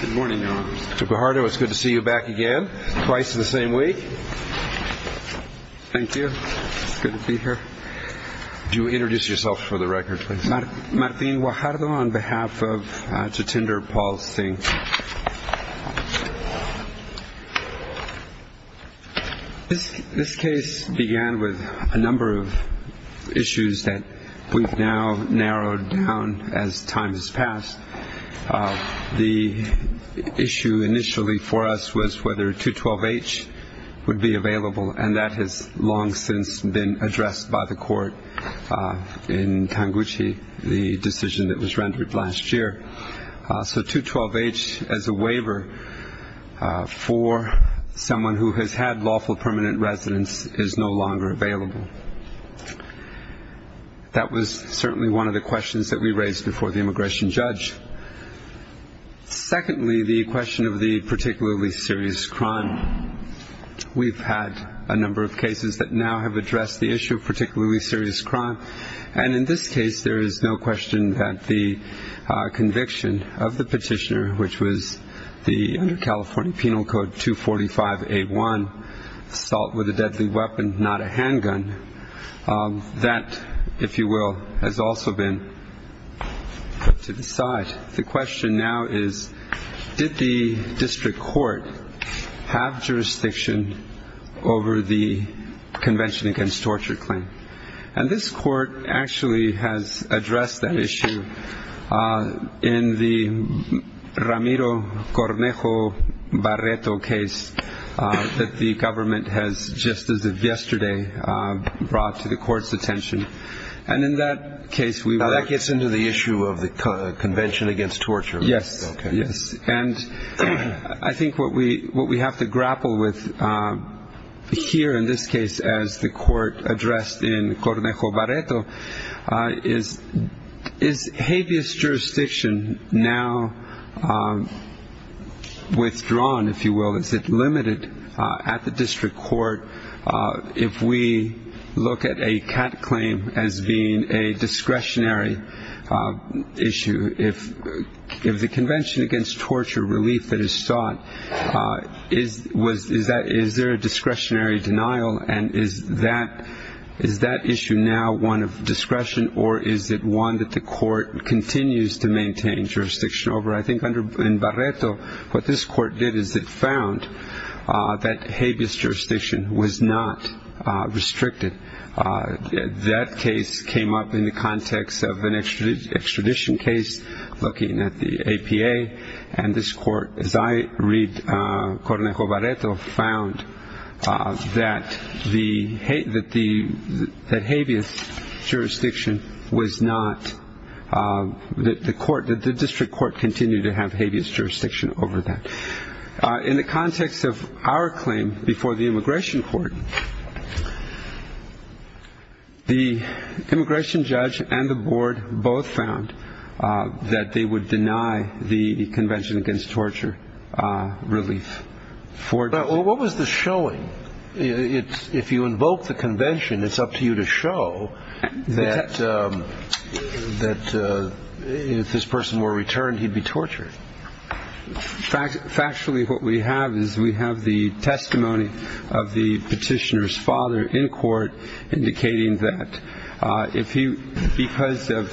Good morning, Your Honor. Mr. Guajardo, it's good to see you back again, twice in the same week. Thank you. It's good to be here. Would you introduce yourself for the record, please? Martin Guajardo on behalf of, to tender Paul's thing. This case began with a number of issues that we've now narrowed down as time has passed. The issue initially for us was whether 212-H would be available, and that has long since been addressed by the court in Tanguchi, the decision that was rendered last year. So 212-H as a waiver for someone who has had lawful permanent residence is no longer available. That was certainly one of the questions that we raised before the immigration judge. Secondly, the question of the particularly serious crime. We've had a number of cases that now have addressed the issue of particularly serious crime, and in this case there is no question that the conviction of the petitioner, which was under California Penal Code 245-A1, assault with a deadly weapon, not a handgun, that, if you will, has also been put to the side. The question now is, did the district court have jurisdiction over the Convention Against Torture claim? And this court actually has addressed that issue in the Ramiro-Cornejo-Barreto case that the government has, just as of yesterday, brought to the court's attention. And in that case we were- Now, that gets into the issue of the Convention Against Torture. Yes. And I think what we have to grapple with here in this case, as the court addressed in Cornejo-Barreto, is habeas jurisdiction now withdrawn, if you will? Is it limited at the district court if we look at a CAT claim as being a discretionary issue if the Convention Against Torture relief that is sought, is there a discretionary denial? And is that issue now one of discretion, or is it one that the court continues to maintain jurisdiction over? I think in Barreto what this court did is it found that habeas jurisdiction was not restricted. That case came up in the context of an extradition case looking at the APA, and this court, as I read Cornejo-Barreto, found that the habeas jurisdiction was not- that the district court continued to have habeas jurisdiction over that. In the context of our claim before the immigration court, the immigration judge and the board both found that they would deny the Convention Against Torture relief. But what was the showing? If you invoke the convention, it's up to you to show that if this person were returned, he'd be tortured. Factually, what we have is we have the testimony of the petitioner's father in court, indicating that because of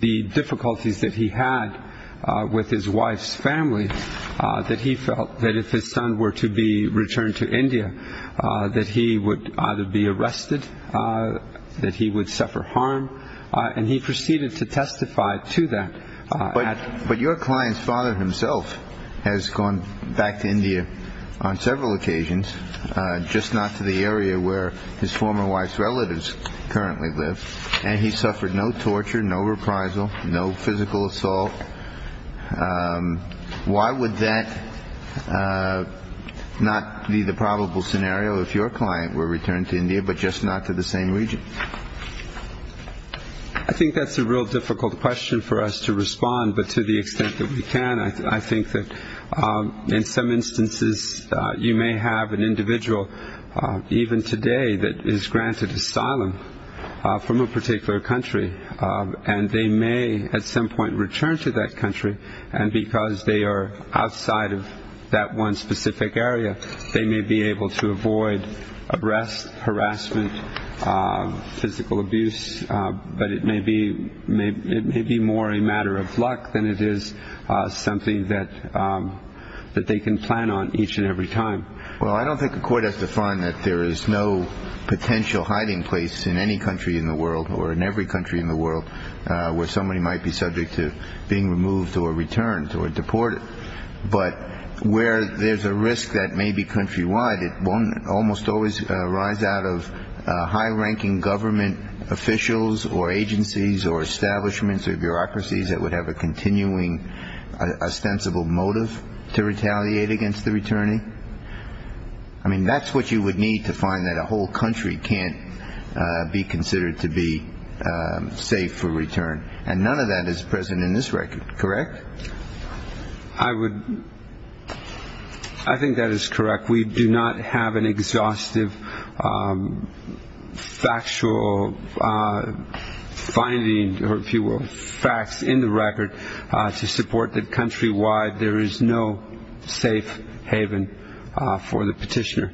the difficulties that he had with his wife's family, that he felt that if his son were to be returned to India, that he would either be arrested, that he would suffer harm, and he proceeded to testify to that. But your client's father himself has gone back to India on several occasions, just not to the area where his former wife's relatives currently live, and he suffered no torture, no reprisal, no physical assault. Why would that not be the probable scenario if your client were returned to India, but just not to the same region? I think that's a real difficult question for us to respond, but to the extent that we can, I think that in some instances you may have an individual, even today, that is granted asylum from a particular country, and they may at some point return to that country, and because they are outside of that one specific area, they may be able to avoid arrest, harassment, physical abuse, but it may be more a matter of luck than it is something that they can plan on each and every time. Well, I don't think a court has to find that there is no potential hiding place in any country in the world, or in every country in the world, where somebody might be subject to being removed or returned or deported. But where there's a risk that may be countrywide, it won't almost always arise out of high-ranking government officials or agencies or establishments or bureaucracies that would have a continuing ostensible motive to retaliate against the returning. I mean, that's what you would need to find that a whole country can't be considered to be safe for return, and none of that is present in this record, correct? I think that is correct. We do not have an exhaustive factual finding, if you will, to support that countrywide there is no safe haven for the petitioner.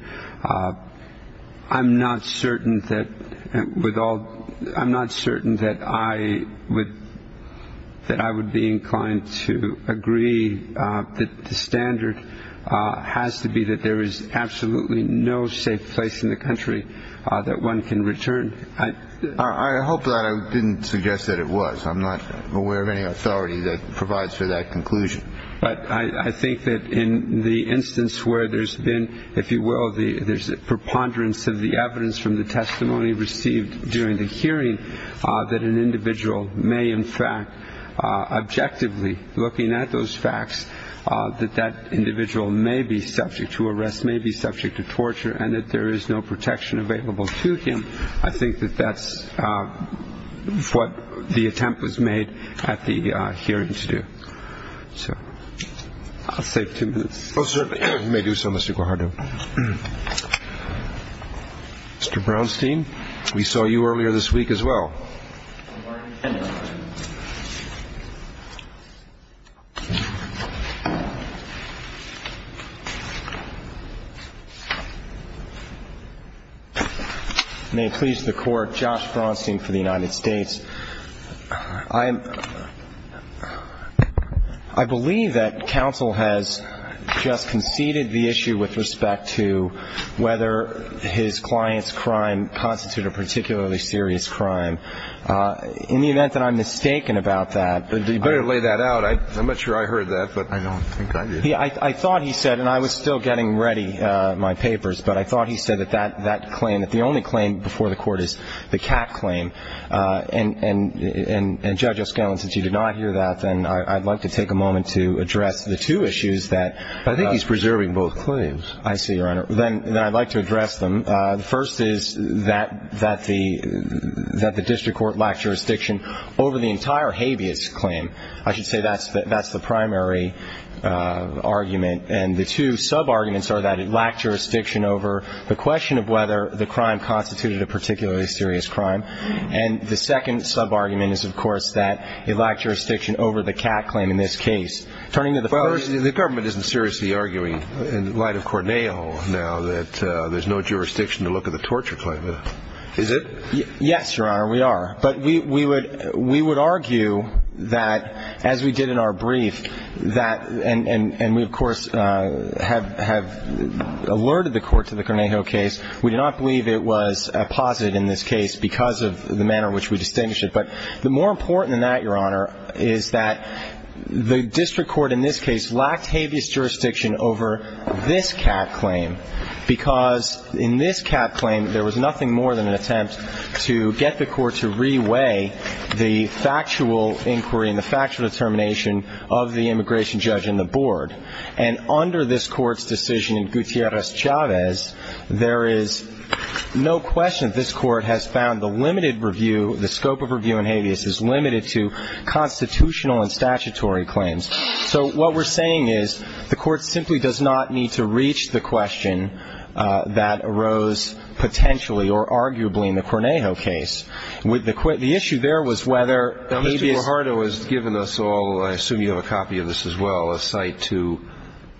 I'm not certain that I would be inclined to agree that the standard has to be that there is absolutely no safe place in the country that one can return. I hope that I didn't suggest that it was. I'm not aware of any authority that provides for that conclusion. But I think that in the instance where there's been, if you will, the preponderance of the evidence from the testimony received during the hearing, that an individual may in fact objectively, looking at those facts, that that individual may be subject to arrest, may be subject to torture, and that there is no protection available to him, I think that that's what the attempt was made at the hearing to do. So I'll save two minutes. You may do so, Mr. Guajardo. Mr. Brownstein, we saw you earlier this week as well. May it please the Court, Josh Brownstein for the United States. I believe that counsel has just conceded the issue with respect to whether his client's crime constituted a particularly serious crime. In the event that I'm mistaken about that. You better lay that out. I'm not sure I heard that, but I don't think I did. I thought he said, and I was still getting ready my papers, but I thought he said that that claim, that the only claim before the Court is the CAC claim. And, Judge O'Skellin, since you did not hear that, then I'd like to take a moment to address the two issues that... I think he's preserving both claims. I see, Your Honor. Then I'd like to address them. The first is that the district court lacked jurisdiction over the entire habeas claim. I should say that's the primary argument. And the two sub-arguments are that it lacked jurisdiction over the question of whether the crime constituted a particularly serious crime. And the second sub-argument is, of course, that it lacked jurisdiction over the CAC claim in this case. The government isn't seriously arguing in light of Cornejo now that there's no jurisdiction to look at the torture claim, is it? Yes, Your Honor, we are. But we would argue that, as we did in our brief, and we, of course, have alerted the Court to the Cornejo case, we do not believe it was posited in this case because of the manner in which we distinguished it. But more important than that, Your Honor, is that the district court in this case lacked habeas jurisdiction over this CAC claim because in this CAC claim there was nothing more than an attempt to get the Court to reweigh the factual inquiry and the factual determination of the immigration judge and the board. And under this Court's decision in Gutierrez-Chavez, there is no question that this Court has found the limited review, the scope of review in habeas is limited to constitutional and statutory claims. So what we're saying is the Court simply does not need to reach the question that arose potentially or arguably in the Cornejo case. The issue there was whether habeas ---- Now, Mr. Guajardo has given us all, I assume you have a copy of this as well, a cite to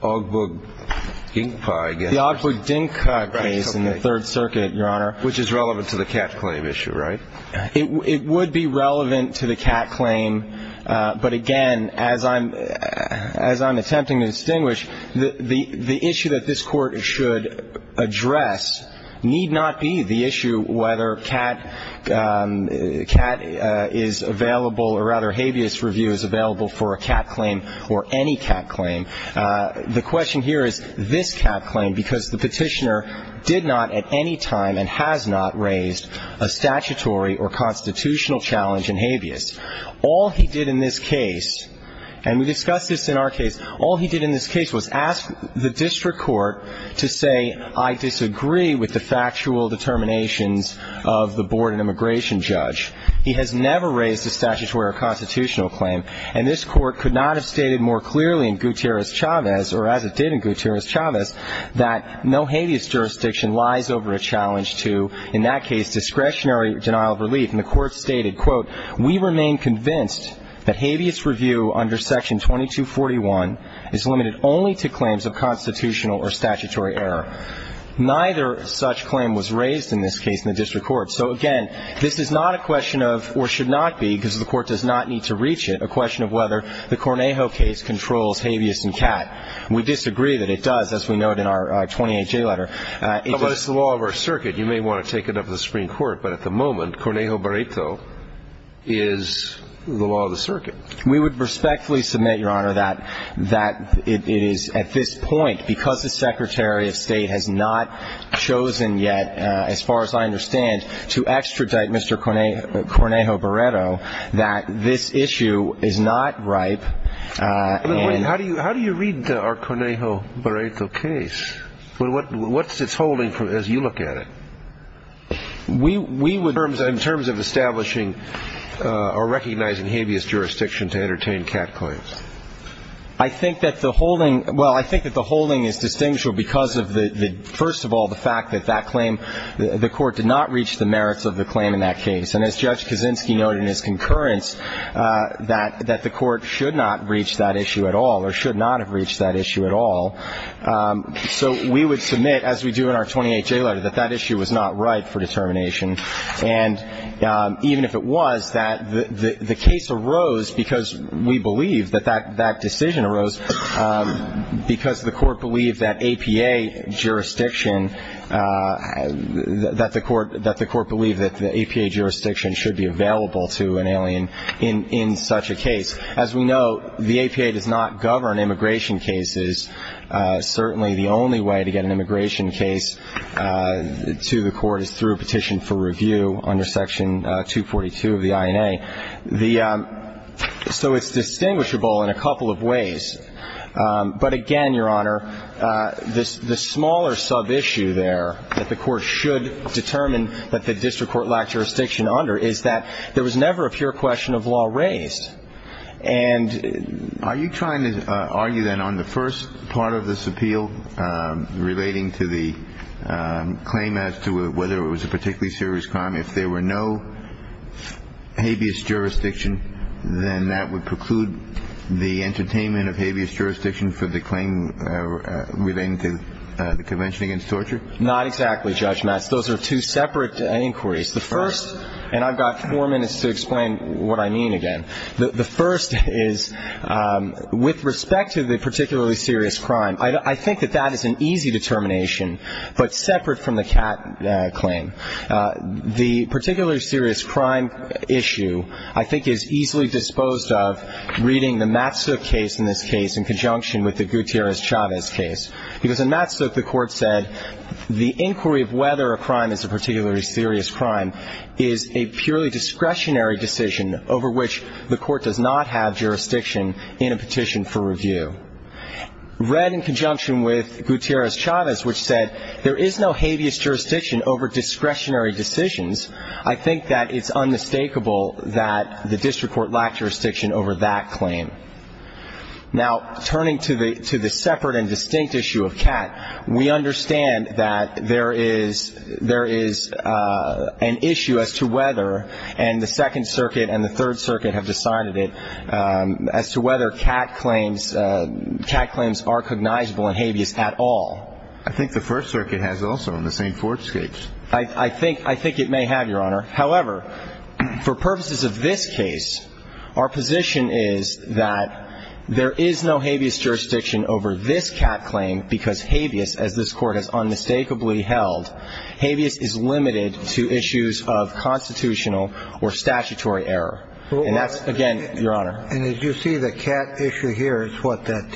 Ogbog-Dingpa, I guess. The Ogbog-Dingpa case in the Third Circuit, Your Honor. Which is relevant to the CAC claim issue, right? It would be relevant to the CAC claim, but again, as I'm attempting to distinguish, the issue that this Court should address need not be the issue whether CAC is available or rather habeas review is available for a CAC claim or any CAC claim. The question here is this CAC claim, because the petitioner did not at any time and has not raised a statutory or constitutional challenge in habeas. All he did in this case, and we discussed this in our case, all he did in this case was ask the district court to say, I disagree with the factual determinations of the board and immigration judge. He has never raised a statutory or constitutional claim, and this Court could not have stated more clearly in Gutierrez-Chavez, or as it did in Gutierrez-Chavez, that no habeas jurisdiction lies over a challenge to, in that case, discretionary denial of relief. And the Court stated, quote, We remain convinced that habeas review under Section 2241 is limited only to claims of constitutional or statutory error. Neither such claim was raised in this case in the district court. So again, this is not a question of, or should not be, because the Court does not need to reach it, a question of whether the Cornejo case controls habeas in CAC. We disagree that it does, as we note in our 28-J letter. But it's the law of our circuit. You may want to take it up with the Supreme Court, but at the moment, Cornejo-Baretto is the law of the circuit. We would respectfully submit, Your Honor, that it is at this point, because the Secretary of State has not chosen yet, as far as I understand, to extradite Mr. Cornejo-Baretto, that this issue is not ripe. How do you read our Cornejo-Baretto case? What's its holding as you look at it? We would, in terms of establishing or recognizing habeas jurisdiction to entertain CAC claims. I think that the holding, well, I think that the holding is distinguished because of the, first of all, the fact that that claim, the Court did not reach the merits of the claim in that case. And as Judge Kaczynski noted in his concurrence, that the Court should not reach that issue at all or should not have reached that issue at all. So we would submit, as we do in our 28-J letter, that that issue was not ripe for determination. And even if it was, that the case arose because we believe that that decision arose because the Court believed that APA jurisdiction, that the Court believed that the APA jurisdiction should be available to an alien in such a case. As we know, the APA does not govern immigration cases. Certainly the only way to get an immigration case to the Court is through a petition for review under Section 242 of the INA. So it's distinguishable in a couple of ways. But again, Your Honor, the smaller sub-issue there that the Court should determine that the district court lacked jurisdiction under is that there was never a pure question of law raised. And are you trying to argue then on the first part of this appeal, relating to the claim as to whether it was a particularly serious crime, if there were no habeas jurisdiction, then that would preclude the entertainment of habeas jurisdiction for the claim relating to the Convention Against Torture? Not exactly, Judge Matz. Those are two separate inquiries. The first, and I've got four minutes to explain what I mean again. The first is, with respect to the particularly serious crime, I think that that is an easy determination, but separate from the Catt claim. The particularly serious crime issue, I think, is easily disposed of reading the Matsuk case in this case in conjunction with the Gutierrez-Chavez case. Because in Matsuk, the Court said the inquiry of whether a crime is a particularly serious crime is a purely discretionary decision over which the Court does not have jurisdiction in a petition for review. Read in conjunction with Gutierrez-Chavez, which said there is no habeas jurisdiction over discretionary decisions, I think that it's unmistakable that the district court lacked jurisdiction over that claim. Now, turning to the separate and distinct issue of Catt, we understand that there is an issue as to whether, and the Second Circuit and the Third Circuit have decided it, as to whether Catt claims are cognizable in habeas at all. I think the First Circuit has also in the St. Fords case. I think it may have, Your Honor. However, for purposes of this case, our position is that there is no habeas jurisdiction over this Catt claim because habeas, as this Court has unmistakably held, habeas is limited to issues of constitutional or statutory error. And that's, again, Your Honor. And as you see, the Catt issue here is what? That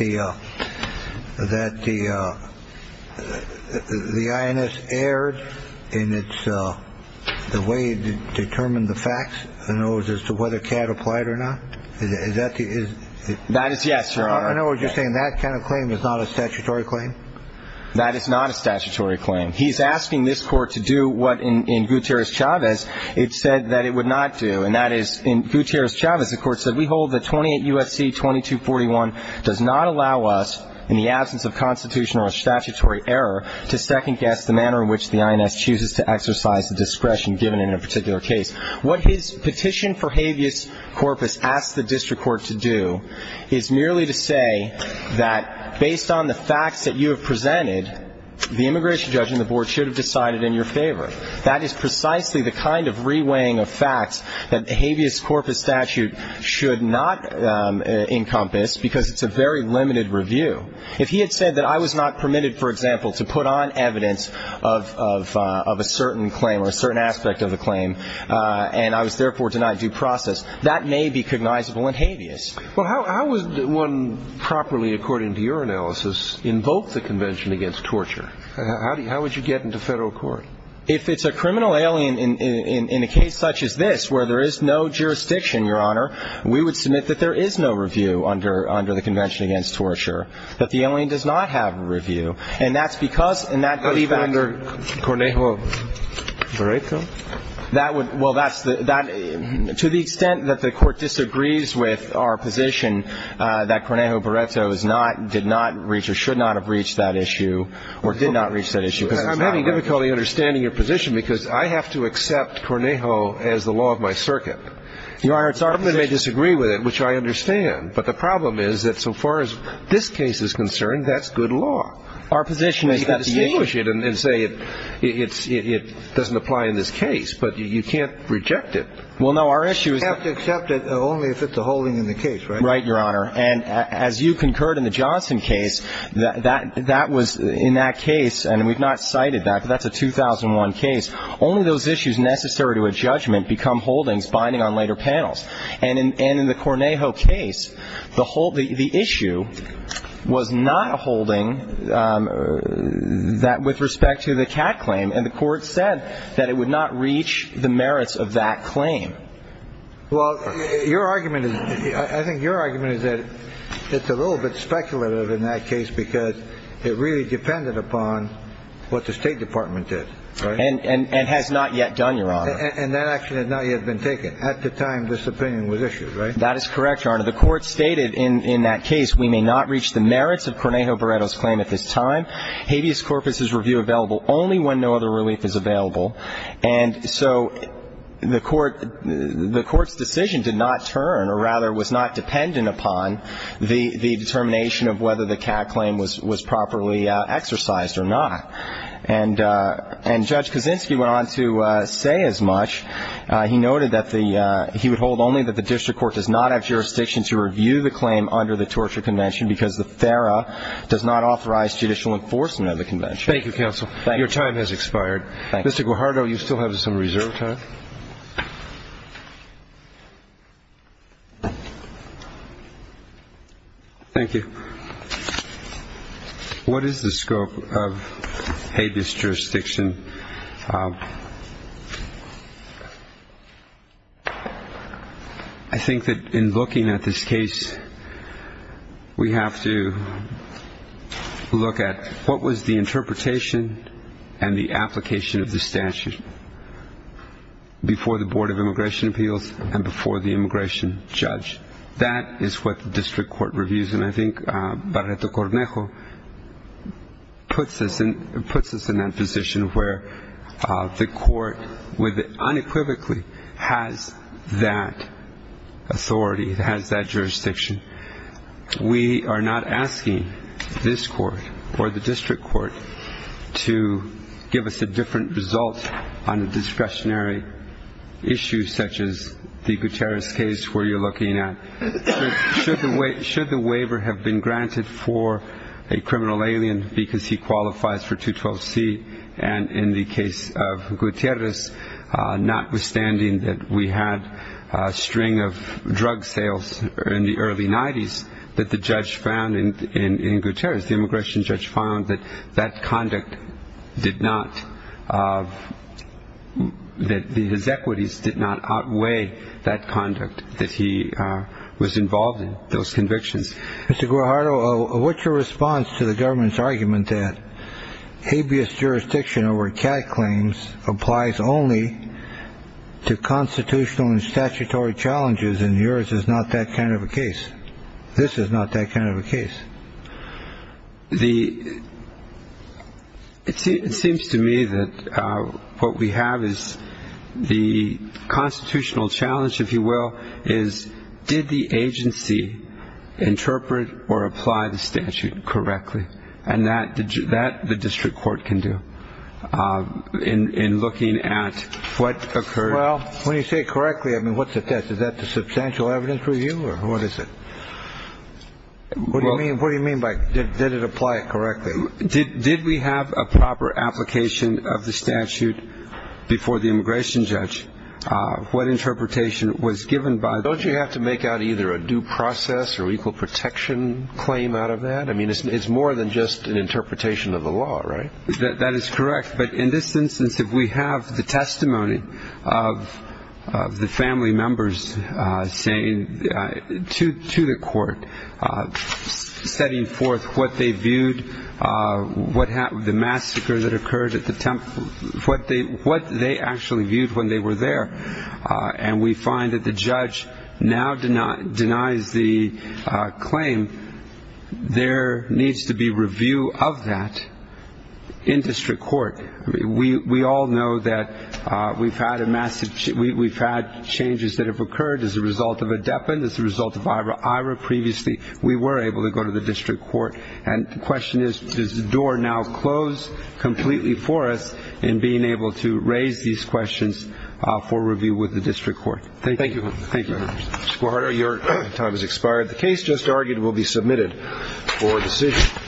the INS erred in the way it determined the facts as to whether Catt applied or not? That is yes, Your Honor. I know what you're saying. That kind of claim is not a statutory claim? That is not a statutory claim. He's asking this Court to do what, in Gutierrez-Chavez, it said that it would not do, and that is, in Gutierrez-Chavez, the Court said, we hold that 28 U.S.C. 2241 does not allow us, in the absence of constitutional or statutory error, to second-guess the manner in which the INS chooses to exercise the discretion given in a particular case. What his petition for habeas corpus asks the district court to do is merely to say that based on the facts that you have presented, the immigration judge and the board should have decided in your favor. That is precisely the kind of reweighing of facts that the habeas corpus statute should not encompass because it's a very limited review. If he had said that I was not permitted, for example, to put on evidence of a certain claim or a certain aspect of the claim, and I was therefore denied due process, that may be cognizable in habeas. Well, how would one properly, according to your analysis, invoke the Convention Against Torture? How would you get into Federal court? If it's a criminal alien in a case such as this, where there is no jurisdiction, Your Honor, we would submit that there is no review under the Convention Against Torture, that the alien does not have a review, and that's because, in that belief factor — But even under Cornejo-Vareto? That would — well, that's the — to the extent that the Court disagrees with our position that Cornejo-Vareto is not — did not reach or should not have reached that issue or did not reach that issue, because it's not — I'm having difficulty understanding your position because I have to accept Cornejo as the law of my circuit. Your Honor, it's our position — The government may disagree with it, which I understand, but the problem is that so far as this case is concerned, that's good law. Our position is that — Well, no, our issue is — You have to accept it only if it's a holding in the case, right? Right, Your Honor. And as you concurred in the Johnson case, that was — in that case, and we've not cited that, but that's a 2001 case, only those issues necessary to a judgment become holdings binding on later panels. And in the Cornejo case, the issue was not a holding that — with respect to the cat claim, and the Court said that it would not reach the merits of that claim. Well, your argument is — I think your argument is that it's a little bit speculative in that case because it really depended upon what the State Department did, right? And has not yet done, Your Honor. And that action has not yet been taken. At the time this opinion was issued, right? That is correct, Your Honor. The Court stated in that case, we may not reach the merits of Cornejo-Vareto's claim at this time. Habeas corpus is review available only when no other relief is available. And so the Court's decision did not turn, or rather was not dependent upon, the determination of whether the cat claim was properly exercised or not. And Judge Kaczynski went on to say as much. He noted that the — he would hold only that the district court does not have jurisdiction to review the claim under the torture convention because the FARA does not authorize judicial enforcement of the convention. Thank you, counsel. Your time has expired. Thank you. Mr. Guajardo, you still have some reserve time. Thank you. What is the scope of Habeas jurisdiction? I think that in looking at this case, we have to look at what was the interpretation and the application of the statute before the Board of Immigration Appeals and before the immigration judge. That is what the district court reviews. And I think Barreto-Cornejo puts us in that position where the court unequivocally has that authority. It has that jurisdiction. We are not asking this court or the district court to give us a different result on a discretionary issue, such as the Gutierrez case where you're looking at. Should the waiver have been granted for a criminal alien because he qualifies for 212C, and in the case of Gutierrez, notwithstanding that we had a string of drug sales in the early 90s, that the judge found in Gutierrez, the immigration judge found that that conduct did not — that his equities did not outweigh that conduct that he was involved in, those convictions. Mr. Guajardo, what's your response to the government's argument that Habeas jurisdiction over CAD claims applies only to constitutional and statutory challenges, and yours is not that kind of a case? This is not that kind of a case. It seems to me that what we have is the constitutional challenge, if you will, is did the agency interpret or apply the statute correctly, and that the district court can do in looking at what occurred. Well, when you say correctly, I mean, what's the test? Is that the substantial evidence review, or what is it? What do you mean by did it apply correctly? Did we have a proper application of the statute before the immigration judge? What interpretation was given by — Don't you have to make out either a due process or equal protection claim out of that? I mean, it's more than just an interpretation of the law, right? That is correct. But in this instance, if we have the testimony of the family members saying to the court, setting forth what they viewed, the massacre that occurred at the temple, what they actually viewed when they were there, and we find that the judge now denies the claim, there needs to be review of that in district court. We all know that we've had changes that have occurred as a result of ADEPA and as a result of IRA. Previously, we were able to go to the district court, and the question is does the door now close completely for us in being able to raise these questions for review with the district court. Thank you. Thank you. Mr. Guajardo, your time has expired. The case just argued will be submitted for decision.